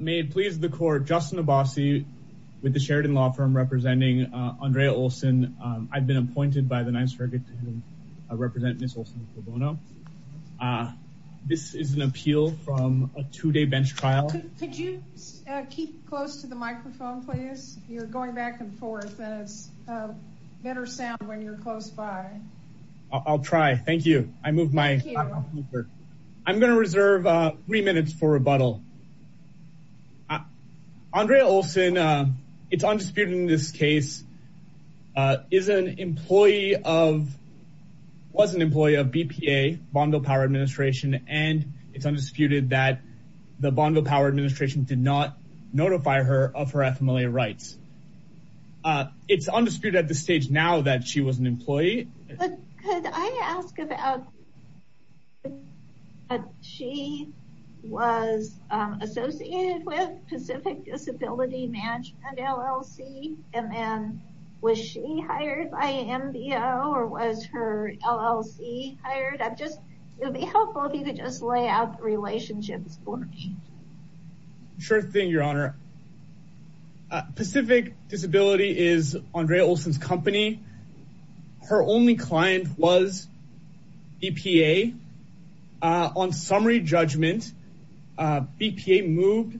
May it please the court, Justin Abbasi with the Sheridan Law Firm representing Andrea Olson. I've been appointed by the NYSERDA to represent Ms. Olson-Cobono. This is an appeal from a two-day bench trial. Could you keep close to the microphone please? You're going back and forth and it's a better sound when you're close by. I'll try. Thank you. I moved my microphone. I'm going to reserve three minutes for rebuttal. Andrea Olson, it's undisputed in this case, is an employee of, was an employee of BPA, Bonneville Power Administration, and it's undisputed that the Bonneville Power Administration did not notify her of her FMLA rights. It's undisputed at this stage now that she was an employee. But could I ask about that she was associated with Pacific Disability Management LLC and then was she hired by MBO or was her LLC hired? I'm just, it would be helpful if you could just lay out the relationships for me. Sure thing, your honor. Pacific Disability is Andrea Olson's company. Her only client was BPA. On summary judgment, BPA moved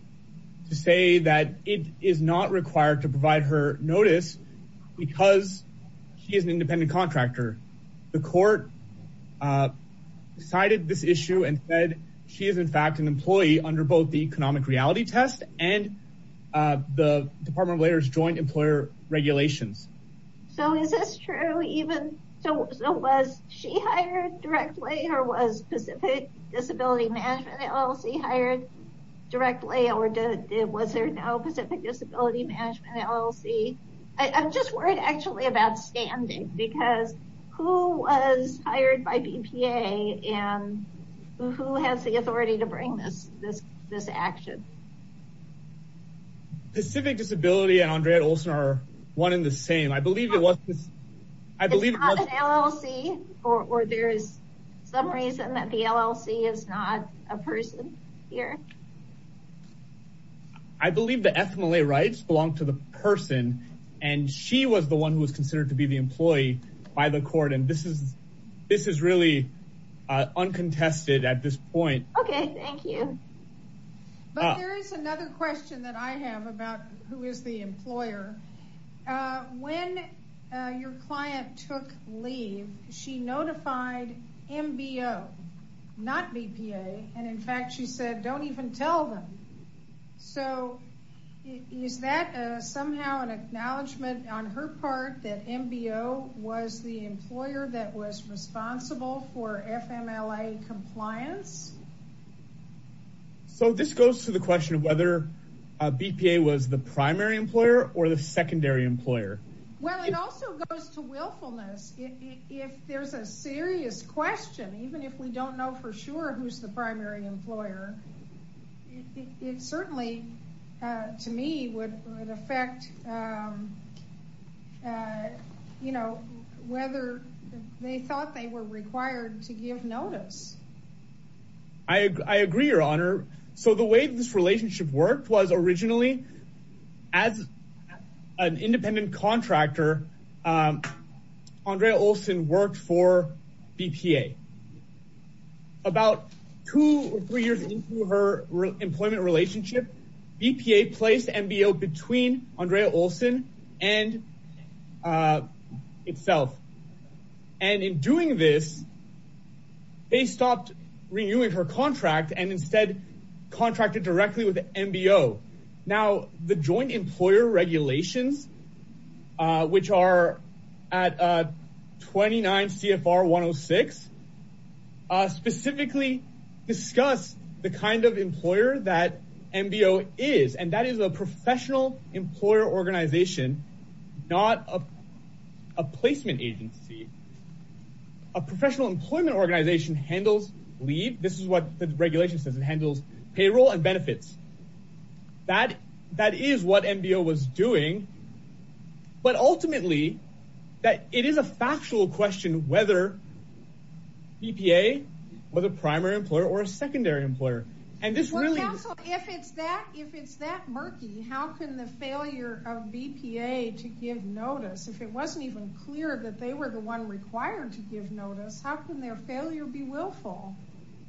to say that it is not required to provide her notice because she is an independent contractor. The court decided this issue and said she is in fact an employee of BPA. So, is this true even, so was she hired directly or was Pacific Disability Management LLC hired directly or was there no Pacific Disability Management LLC? I'm just worried actually about standing because who was hired by BPA and who has the authority to bring this action? Pacific Disability and Andrea Olson are one in the same. I believe it was, I believe it was an LLC or there is some reason that the LLC is not a person here. I believe the FMLA rights belong to the person and she was the one who was considered to be the employee. But there is another question that I have about who is the employer. When your client took leave, she notified MBO, not BPA, and in fact she said don't even tell them. So, is that somehow an acknowledgement on her part that MBO was the employer that was responsible for FMLA compliance? So, this goes to the question of whether BPA was the primary employer or the secondary employer. Well, it also goes to willfulness. If there is a serious question, even if we don't know for sure who is the primary employer, it certainly to me would affect whether they thought they were required to give notice. I agree, your honor. So, the way this relationship worked was originally as an independent contractor, Andrea Olson worked for Employment Relationship. BPA placed MBO between Andrea Olson and itself. And in doing this, they stopped renewing her contract and instead contracted directly with MBO. Now, the joint employer that MBO is, and that is a professional employer organization, not a placement agency. A professional employment organization handles leave. This is what the regulation says. It handles payroll and benefits. That is what MBO was doing. But ultimately, it is a factual question whether BPA was a primary employer or a secondary employer. Counsel, if it is that murky, how can the failure of BPA to give notice, if it wasn't even clear that they were the one required to give notice, how can their failure be willful?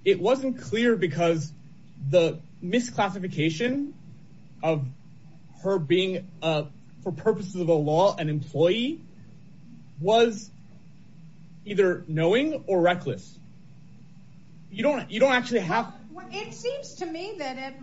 It wasn't clear because the misclassification of her being, for purposes of a law, an employee, was either knowing or reckless. It seems to me that,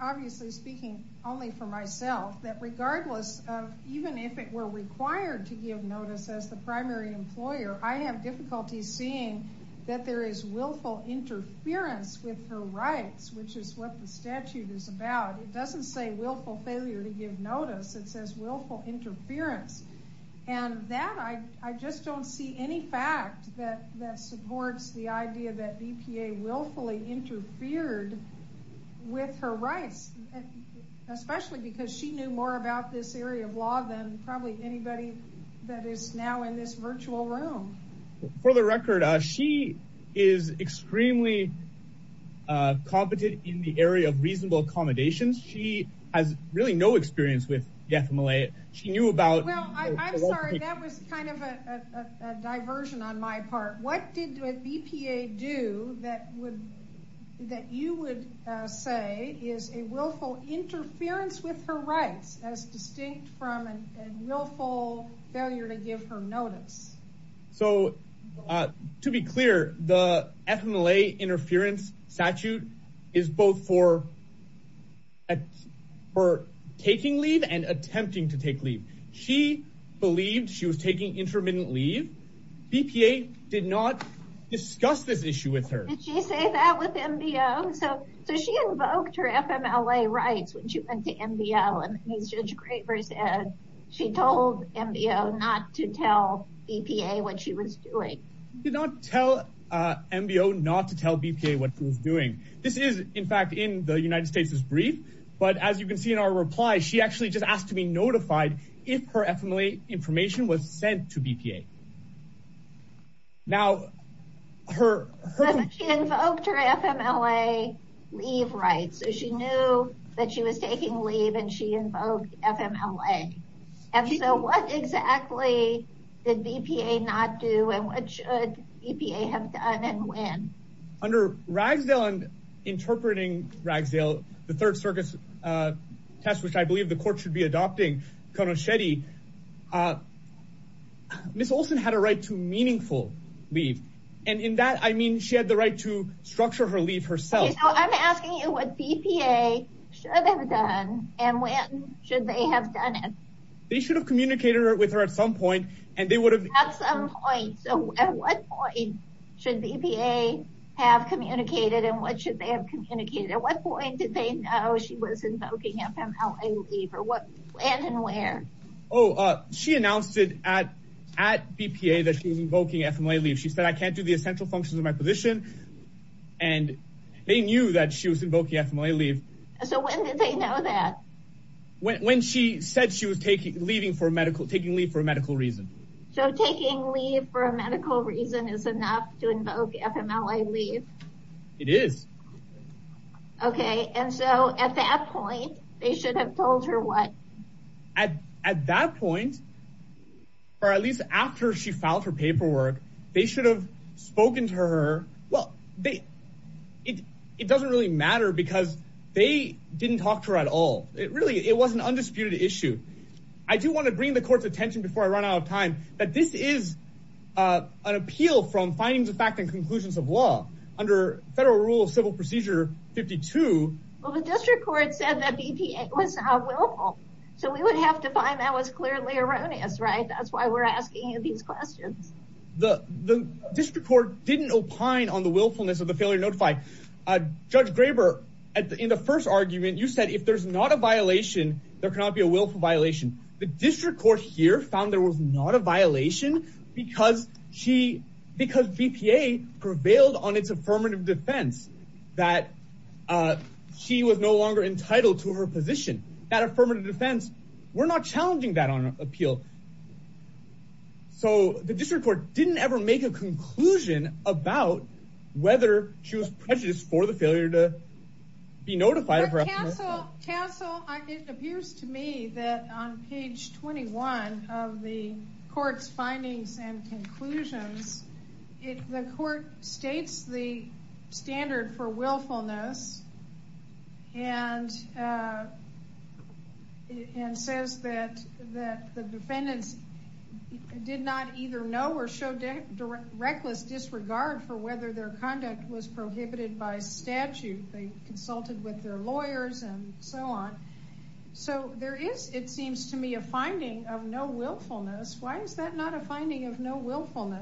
obviously speaking only for myself, that regardless of even if it were required to give notice as the primary employer, I have difficulty seeing that there is willful interference with her rights, which is what the statute is about. It doesn't say willful failure to give notice. It says willful interference. And that, I just don't see any fact that supports the idea that BPA willfully interfered with her rights, especially because she knew more about this area of law than probably anybody that is now in this virtual room. For the record, she is extremely competent in the area of reasonable accommodations. She has really no experience with death in Malaya. She knew about... Well, I'm sorry, that was kind of a diversion on my part. What did BPA do that you would say is a willful interference with her rights, as distinct from a failure to give her notice? So to be clear, the FMLA interference statute is both for for taking leave and attempting to take leave. She believed she was taking intermittent leave. BPA did not discuss this issue with her. Did she say that with MBO? So she invoked her FMLA rights when she went to MBO. And as Judge Graver said, she told MBO not to tell BPA what she was doing. She did not tell MBO not to tell BPA what she was doing. This is, in fact, in the United States' brief. But as you can see in our reply, she actually just asked to be notified if her invoked her FMLA leave rights. So she knew that she was taking leave and she invoked FMLA. And so what exactly did BPA not do and what should BPA have done and when? Under Ragsdale and interpreting Ragsdale, the third circuit's test, which I believe the court should be adopting, Konosheti, Ms. Olson had a right to meaningful leave. And in that, I mean, she had the right to structure her leave herself. I'm asking you what BPA should have done and when should they have done it? They should have communicated with her at some point and they would have at some point. So at what point should BPA have communicated and what should they have Oh, she announced it at BPA that she was invoking FMLA leave. She said, I can't do the essential functions of my position. And they knew that she was invoking FMLA leave. So when did they know that? When she said she was taking leave for a medical reason. So taking leave for a medical reason is enough to invoke FMLA leave? It is. Okay. And so at that point, they should have told her what? At that point, or at least after she filed her paperwork, they should have spoken to her. Well, it doesn't really matter because they didn't talk to her at all. It really, it was an undisputed issue. I do want to bring the court's attention before I run out of time, that this is an appeal from findings of fact and conclusions of law under federal rule of clearly erroneous, right? That's why we're asking you these questions. The district court didn't opine on the willfulness of the failure to notify. Judge Graber, in the first argument, you said, if there's not a violation, there cannot be a willful violation. The district court here found there was not a violation because BPA prevailed on its affirmative defense that she was no longer entitled to her position. That affirmative defense, we're not challenging that on appeal. So the district court didn't ever make a conclusion about whether she was prejudiced for the failure to be notified. Counsel, it appears to me that on page 21 of the court's for willfulness and says that the defendants did not either know or show reckless disregard for whether their conduct was prohibited by statute. They consulted with their lawyers and so on. So there is, it seems to me, a finding of no willfulness. Why is that not a finding of no terminating?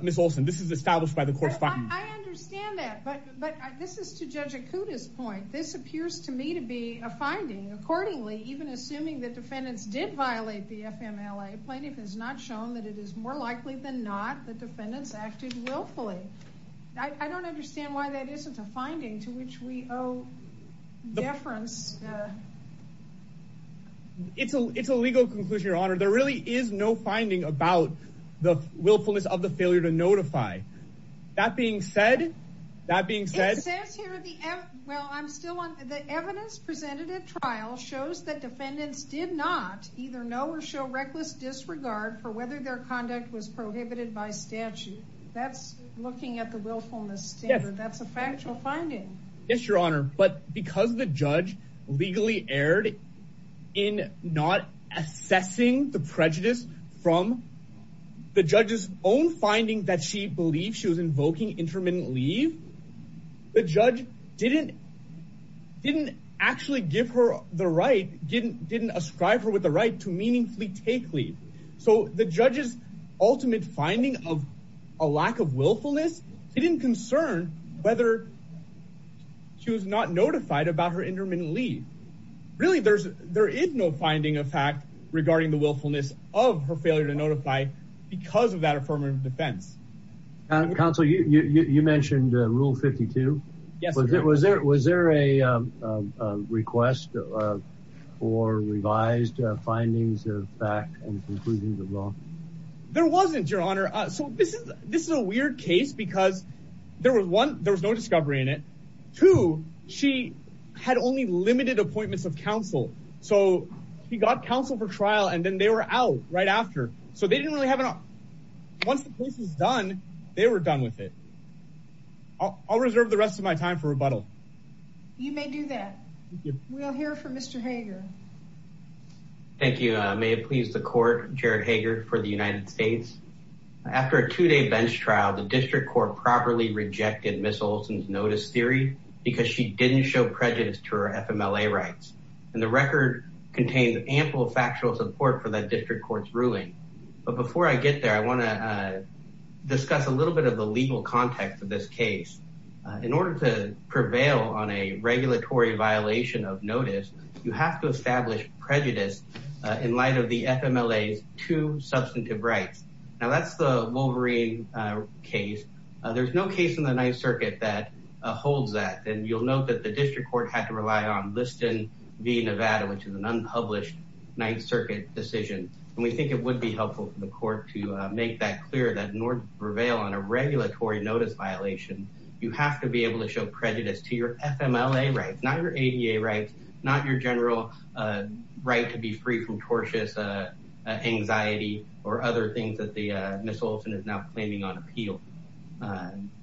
Ms. Olson, this is established by the court's findings. I understand that, but this is to Judge Okuda's point. This appears to me to be a finding. Accordingly, even assuming that defendants did violate the FMLA, plaintiff has not shown that it is more likely than not that defendants acted willfully. I don't understand why that isn't a finding to which we owe deference. It's a legal conclusion, Your Honor. There really is no finding about the willfulness of the failure to notify. That being said, that being said, well, I'm still on the evidence presented at trial shows that defendants did not either know or show reckless disregard for whether their conduct was prohibited by statute. That's looking at the willfulness standard. That's a factual finding. Yes, Your Honor. But because the judge legally erred in not assessing the prejudice from the judge's own finding that she believed she was invoking intermittent leave, the judge didn't actually give her the right, didn't ascribe her with the right to meaningfully take leave. So the judge's ultimate finding of a lack of willfulness didn't concern whether she was not notified about her intermittent leave. Really, there is no finding of fact regarding the willfulness of her failure to notify because of that affirmative defense. Counsel, you mentioned Rule 52. Yes. Was there a request for revised findings of fact and conclusions of law? There wasn't, Your Honor. So this is a weird case because there was one, there was no discovery in it. Two, she had only limited appointments of counsel. So she got counsel for trial and then they were out right after. So they didn't really have enough. Once the case is done, they were done with it. I'll reserve the rest of my time for rebuttal. You may do that. We'll hear from Mr. Hager. Thank you. May it please the court, Jared Hager for the United States. After a two-day bench trial, the district court properly rejected Ms. Olson's notice theory because she didn't show prejudice to her FMLA rights. And the record contains ample factual support for that district court's ruling. But before I get there, I want to discuss a little bit of the legal context of this case. In order to prevail on a two substantive rights, now that's the Wolverine case. There's no case in the Ninth Circuit that holds that. And you'll note that the district court had to rely on Liston v. Nevada, which is an unpublished Ninth Circuit decision. And we think it would be helpful for the court to make that clear that in order to prevail on a regulatory notice violation, you have to be able to show prejudice to your FMLA rights, not your ADA rights, not your general right to be free from tortious anxiety or other things that Ms. Olson is now claiming on appeal.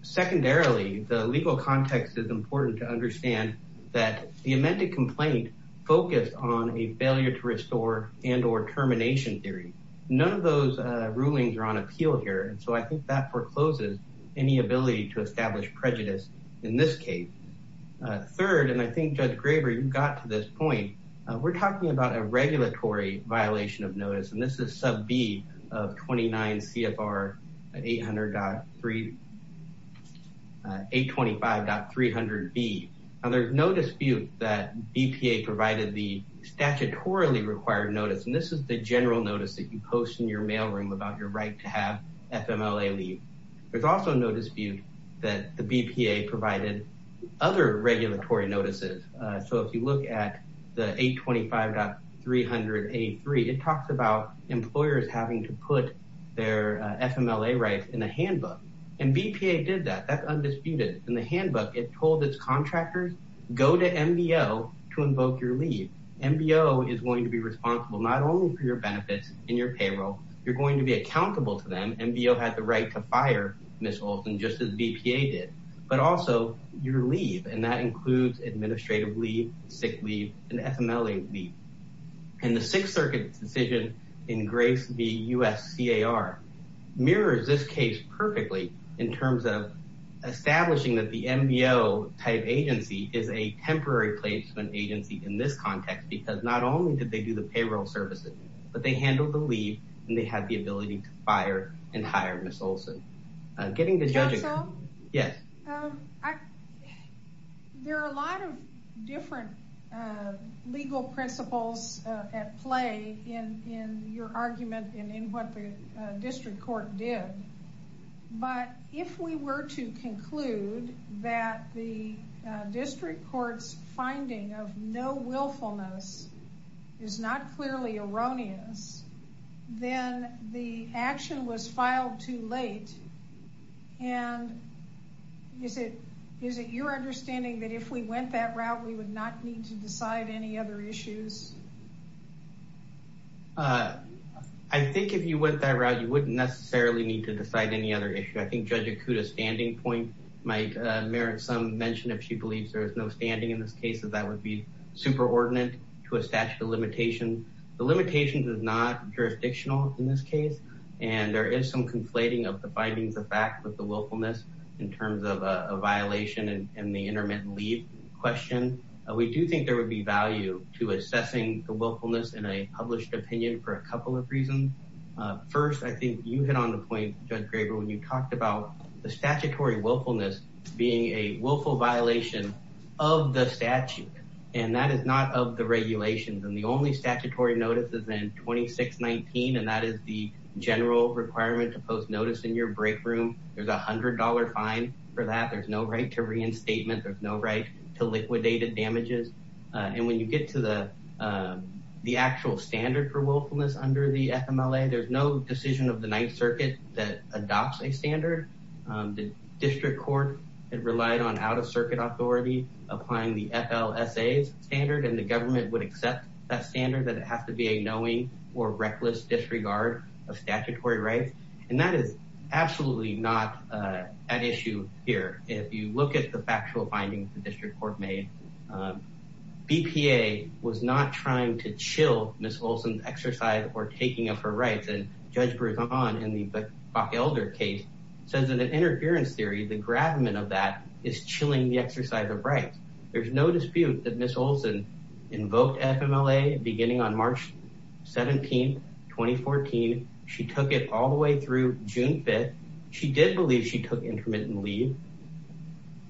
Secondarily, the legal context is important to understand that the amended complaint focused on a failure to restore and or termination theory. None of those rulings are on appeal here. And so I think that forecloses any ability to establish prejudice in this case. Third, and I think Judge this is sub B of 29 CFR 800.3, 825.300B. Now there's no dispute that BPA provided the statutorily required notice. And this is the general notice that you post in your mail room about your right to have FMLA leave. There's also no dispute that the BPA provided other regulatory notices. So if you look at the 825.300A3, it talks about employers having to put their FMLA rights in a handbook. And BPA did that. That's undisputed. In the handbook, it told its contractors go to MBO to invoke your leave. MBO is going to be responsible not only for your benefits and your payroll, you're going to be accountable to them. MBO had the right to fire Ms. Olson, just as BPA did, but also your leave. And that includes administrative leave, sick leave, and FMLA leave. And the Sixth Circuit's decision in grace, the USCAR mirrors this case perfectly in terms of establishing that the MBO type agency is a temporary placement agency in this context, because not only did they do the payroll services, but they handled the leave and they had the Yes. There are a lot of different legal principles at play in your argument and in what the district court did. But if we were to conclude that the district court's finding of no willfulness is not clearly erroneous, then the action was filed too late. And is it your understanding that if we went that route, we would not need to decide any other issues? I think if you went that route, you wouldn't necessarily need to decide any other issue. I think Judge Okuda's standing point might merit some mention if she believes there is no ordinance to a statute of limitations. The limitations is not jurisdictional in this case, and there is some conflating of the findings of fact with the willfulness in terms of a violation and the intermittent leave question. We do think there would be value to assessing the willfulness in a published opinion for a couple of reasons. First, I think you hit on the point, Judge Graber, when you talked about the statutory willfulness being a willful violation of the statute, and that is not of the regulations. And the only statutory notice is in 2619, and that is the general requirement to post notice in your break room. There's a $100 fine for that. There's no right to reinstatement. There's no right to liquidated damages. And when you get to the actual standard for willfulness under the FMLA, there's no decision of the Ninth Circuit that and the government would accept that standard, that it has to be a knowing or reckless disregard of statutory rights. And that is absolutely not an issue here. If you look at the factual findings the district court made, BPA was not trying to chill Ms. Olson's exercise or taking up her rights. And Judge Berzon in the Buckelder case says in an interference theory, the gravamen of that is chilling the exercise of rights. There's no dispute that Ms. Olson invoked FMLA beginning on March 17th, 2014. She took it all the way through June 5th. She did believe she took intermittent leave.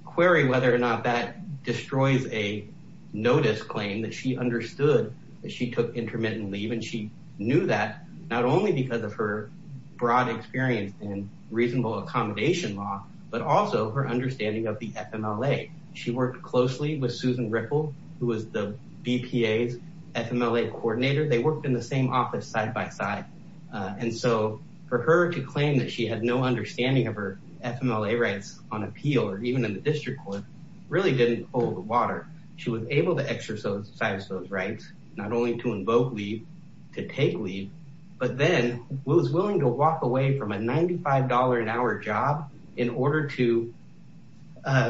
Query whether or not that destroys a notice claim that she understood that she took intermittent leave. And she knew that not only because of her broad experience in reasonable accommodation law, but also her understanding of the FMLA. She worked closely with Susan Ripple, who was the BPA's FMLA coordinator. They worked in the same office side by side. And so for her to claim that she had no understanding of her FMLA rights on appeal, or even in the district court, really didn't hold water. She was able to exercise those rights, not only to invoke leave, to take leave, but then was willing to walk away from a $95 an hour job in order to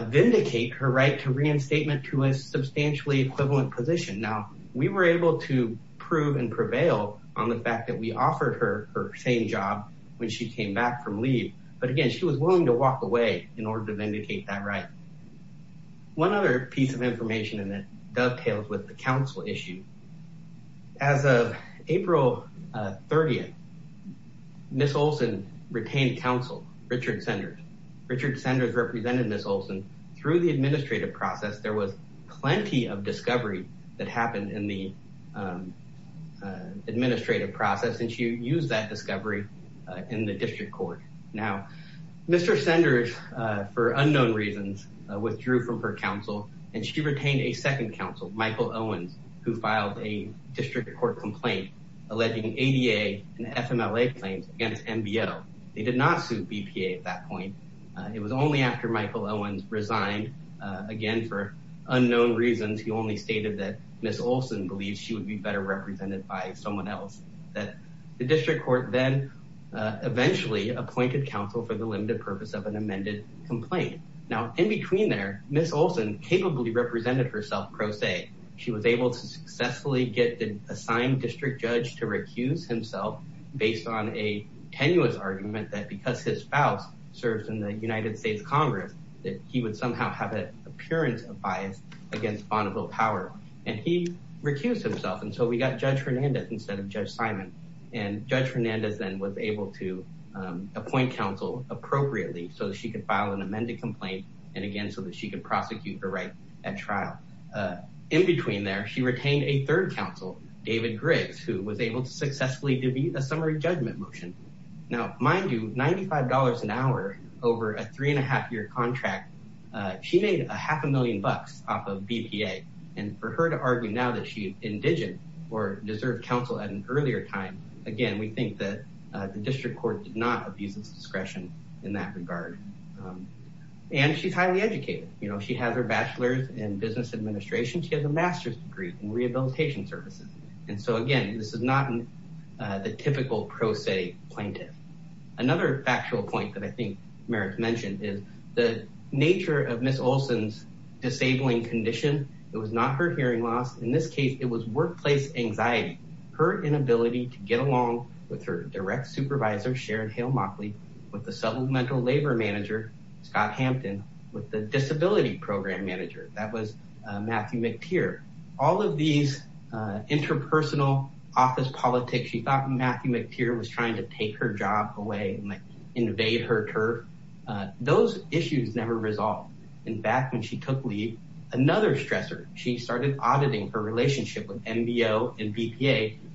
vindicate her right to reinstatement to a substantially equivalent position. Now, we were able to prove and prevail on the fact that we offered her her same job when she came back from leave. But again, she was willing to walk away in order to vindicate that right. One other piece of information that dovetails with the counsel issue. As of April 30th, Ms. Olson retained counsel, Richard Senders. Richard Senders represented Ms. Olson through the administrative process. There was plenty of discovery that happened in the administrative process, and she used that discovery in the district court. Now, Mr. Senders, for unknown reasons, withdrew from her counsel, and she retained a second counsel, Michael Owens, who filed a district court complaint alleging ADA and FMLA claims against MBO. They did not sue BPA at that point. It was only after Michael Owens resigned, again, for unknown reasons, he only stated that Ms. Olson believes she would be better represented by someone else, that the district court then eventually appointed counsel for the limited purpose of an amended complaint. Now, in between there, Ms. Olson capably represented herself pro se. She was able to successfully get the assigned district judge to recuse himself based on a tenuous argument that because his spouse serves in the United States Congress, that he would somehow have an appearance of bias against Bonneville Power. And he recused himself, and so we got Judge Fernandez instead of Judge Simon. And Judge Fernandez then was able to appoint counsel appropriately so that she could file an amended complaint, and again, so that she could prosecute her right at trial. In between there, she retained a third counsel, David Griggs, who was able to successfully debut a summary judgment motion. Now, mind you, $95 an hour over a three and a half year contract, she made a half a million bucks off of BPA. And for her to argue now that she's deserved counsel at an earlier time, again, we think that the district court did not abuse its discretion in that regard. And she's highly educated. You know, she has her bachelor's in business administration. She has a master's degree in rehabilitation services. And so again, this is not the typical pro se plaintiff. Another factual point that I think Merrick mentioned is the nature of Ms. Olson's disabling condition. It was not her hearing loss. In this case, it was workplace anxiety. Her inability to get along with her direct supervisor, Sharon Hale-Mockley, with the supplemental labor manager, Scott Hampton, with the disability program manager, that was Matthew McTeer. All of these interpersonal office politics, she thought Matthew McTeer was trying to take her job away and invade her turf. Those issues never resolved. In fact, when she took leave, another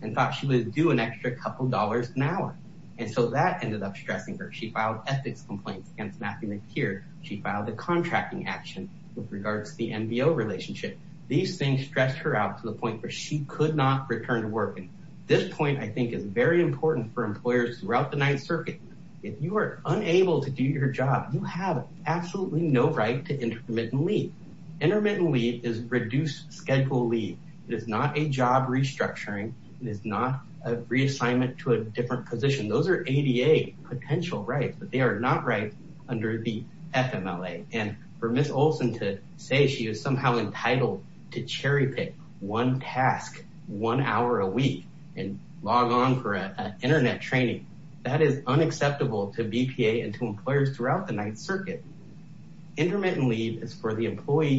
and thought she would do an extra couple dollars an hour. And so that ended up stressing her. She filed ethics complaints against Matthew McTeer. She filed a contracting action with regards to the NBO relationship. These things stressed her out to the point where she could not return to work. And this point, I think, is very important for employers throughout the Ninth Circuit. If you are unable to do your job, you have absolutely no right to intermittent leave. Intermittent leave is reduced schedule leave. It is not a job restructuring. It is not a reassignment to a different position. Those are ADA potential rights, but they are not rights under the FMLA. And for Ms. Olson to say she was somehow entitled to cherry pick one task one hour a week and log on for an internet training, that is unacceptable to BPA and to an employee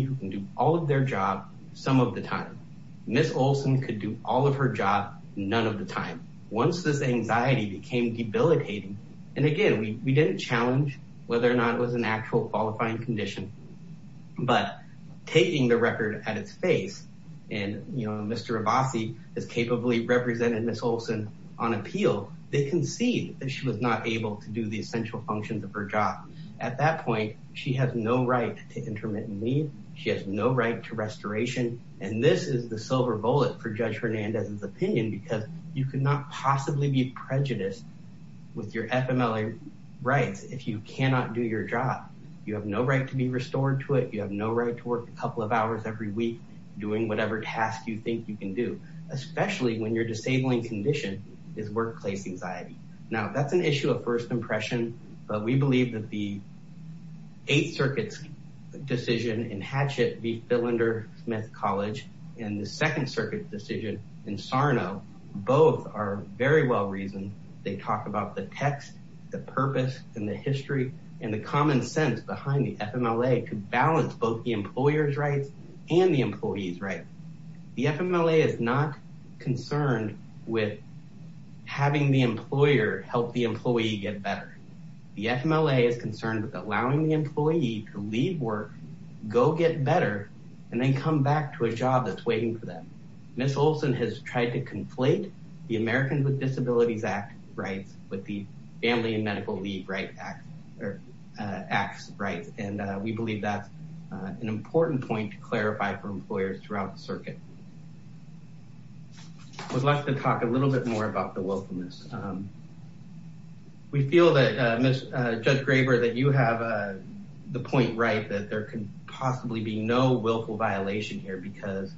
who can do all of their job some of the time. Ms. Olson could do all of her job none of the time. Once this anxiety became debilitating, and again, we did not challenge whether or not it was an actual qualifying condition, but taking the record at its face, and Mr. Abbasi has capably represented Ms. Olson on appeal, they concede that she was not able to the essential functions of her job. At that point, she has no right to intermittent leave. She has no right to restoration. And this is the silver bullet for Judge Hernandez's opinion, because you could not possibly be prejudiced with your FMLA rights if you cannot do your job. You have no right to be restored to it. You have no right to work a couple of hours every week doing whatever task you think you can do, especially when your disabling condition is workplace anxiety. Now, that's an issue of first impression, but we believe that the Eighth Circuit's decision in Hatchet v. Philander-Smith College and the Second Circuit's decision in Sarno, both are very well reasoned. They talk about the text, the purpose, and the history and the common sense behind the FMLA to balance both the employer's rights and the having the employer help the employee get better. The FMLA is concerned with allowing the employee to leave work, go get better, and then come back to a job that's waiting for them. Ms. Olson has tried to conflate the Americans with Disabilities Act rights with the Family and Medical Leave Act rights, and we believe that's an important point to clarify for employers throughout the circuit. I would like to talk a little bit more about the willfulness. We feel that, Judge Graber, that you have the point right that there can possibly be no willful violation here because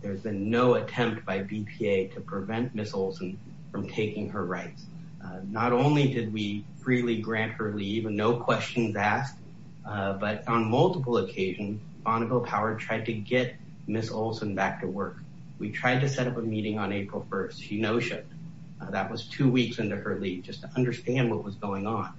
there's been no attempt by BPA to prevent Ms. Olson from taking her rights. Not only did we freely grant her leave and no questions asked, but on multiple occasions, Bonneville Power tried to get Ms. Olson back to work. We tried to set up a meeting on April 1st. She no-shipped. That was two weeks into her leave just to understand what was going on.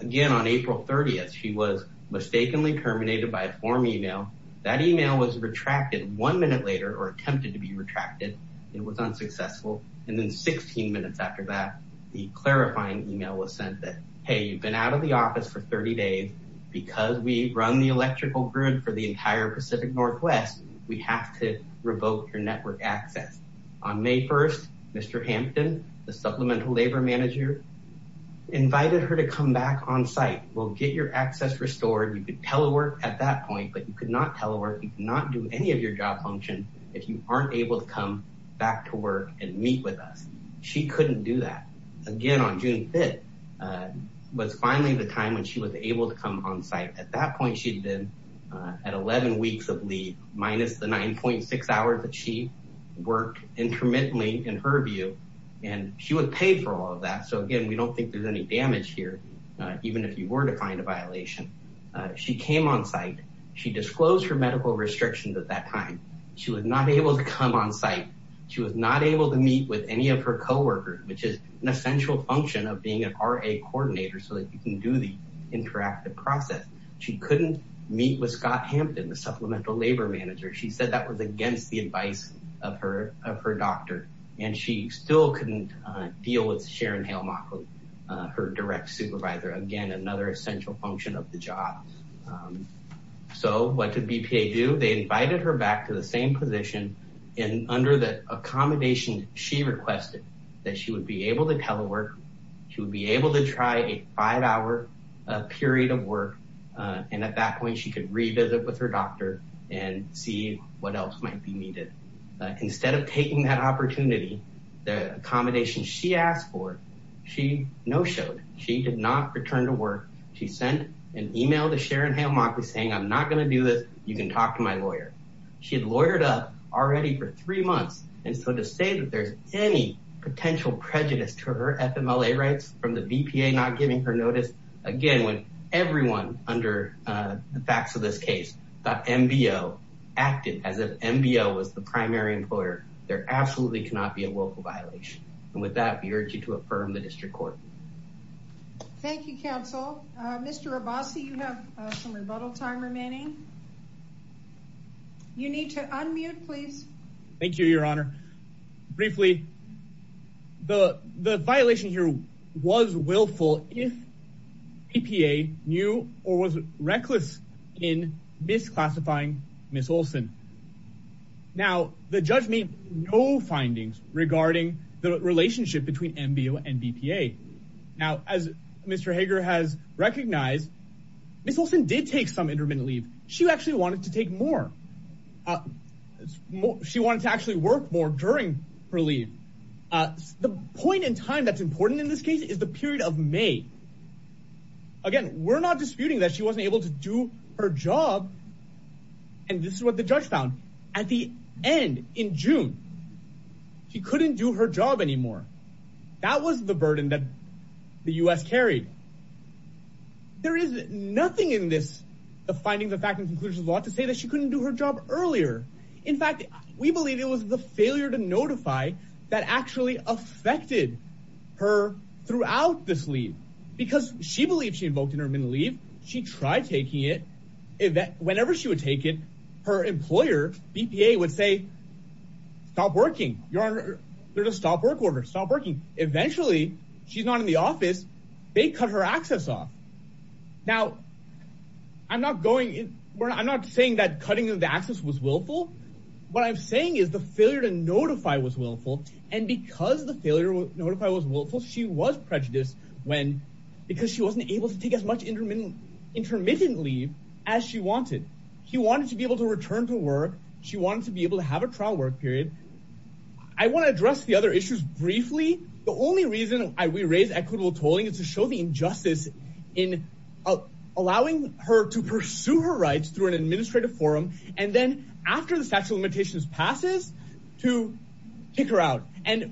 Again, on April 30th, she was mistakenly terminated by a form email. That email was retracted one minute later or attempted to be retracted. It was unsuccessful, and then 16 minutes after that, the clarifying email was sent that, hey, you've been out of the office for 30 days because we run the electrical grid for the entire Pacific Northwest. We have to revoke your network access. On May 1st, Mr. Hampton, the Supplemental Labor Manager, invited her to come back on site. We'll get your access restored. You could telework at that point, but you could not telework. You cannot do any of your job function if you aren't able to come back to work and meet with us. She couldn't do that. Again, on June 5th was finally the time when she was able to come on site. At that point, she'd been at 11 weeks of leave minus the 9.6 hours that she worked intermittently, in her view, and she would pay for all of that. Again, we don't think there's any damage here, even if you were to find a violation. She came on site. She disclosed her medical restrictions at that time. She was not able to come on site. She was not able to meet with any of her co-workers, which is an essential function of being an RA coordinator, so that you can do the interactive process. She couldn't meet with Scott Hampton, the Supplemental Labor Manager. She said that was against the advice of her doctor, and she still couldn't deal with Sharon Hale-Mockley, her direct supervisor. Again, another essential function of the job. So what did BPA do? They invited her back to the same position, and under the accommodation she requested, that she would be able to telework. She would be able to try a five-hour period of work, and at that point, she could revisit with her doctor and see what else might be needed. Instead of taking that opportunity, the accommodation she asked for, she no-showed. She did not return to work. She sent an email to Sharon Hale-Mockley saying, I'm not going to do this. You can talk to my lawyer. She had lawyered up already for three months, and so to say that there's any potential prejudice to her FMLA rights from the BPA not giving her notice, again, when everyone under the facts of this case thought MBO acted as if MBO was the primary employer, there absolutely cannot be a willful violation. The violation here was willful if BPA knew or was reckless in misclassifying Ms. Olson. Now, the judge made no findings regarding the relationship between MBO and BPA. Now, as Mr. Hager has recognized, Ms. Olson did take some intermittent leave. She actually wanted to take more. She wanted to actually work more during her leave. The point in time that's important in this case is the period of May. Again, we're not disputing that she wasn't able to do her job, and this is what the judge found. At the end, in June, she couldn't do her job anymore. That was the burden that the U.S. carried. There is nothing in this, the findings of fact and conclusions of the law, to say that she couldn't do her job earlier. In fact, we believe it was the failure to notify that actually affected her throughout this leave because she believed she invoked intermittent leave. She tried taking it. Whenever she would take it, her employer, BPA, would say, stop working. Your Honor, there's a stop work order. Stop working. Eventually, she's not in the office. They cut her access off. Now, I'm not saying that cutting the access was willful. What I'm saying is the failure to notify was willful, and because the failure to notify was willful, she was prejudiced because she wasn't able to take as intermittent leave as she wanted. She wanted to be able to return to work. She wanted to be able to have a trial work period. I want to address the other issues briefly. The only reason we raise equitable tolling is to show the injustice in allowing her to pursue her rights through an administrative forum and then, after the statute of limitations passes, to kick her out.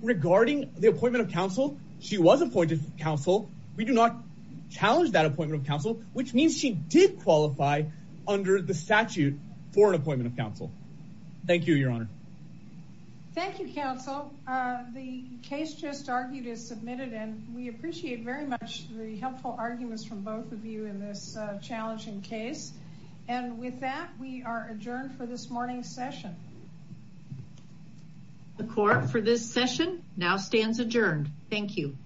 Regarding the appointment of counsel, she was appointed counsel. We do not challenge that appointment of counsel, which means she did qualify under the statute for an appointment of counsel. Thank you, Your Honor. Thank you, counsel. The case just argued is submitted, and we appreciate very much the helpful arguments from both of you in this challenging case. With that, we are adjourned for this morning's session. The court for this session now stands adjourned. Thank you.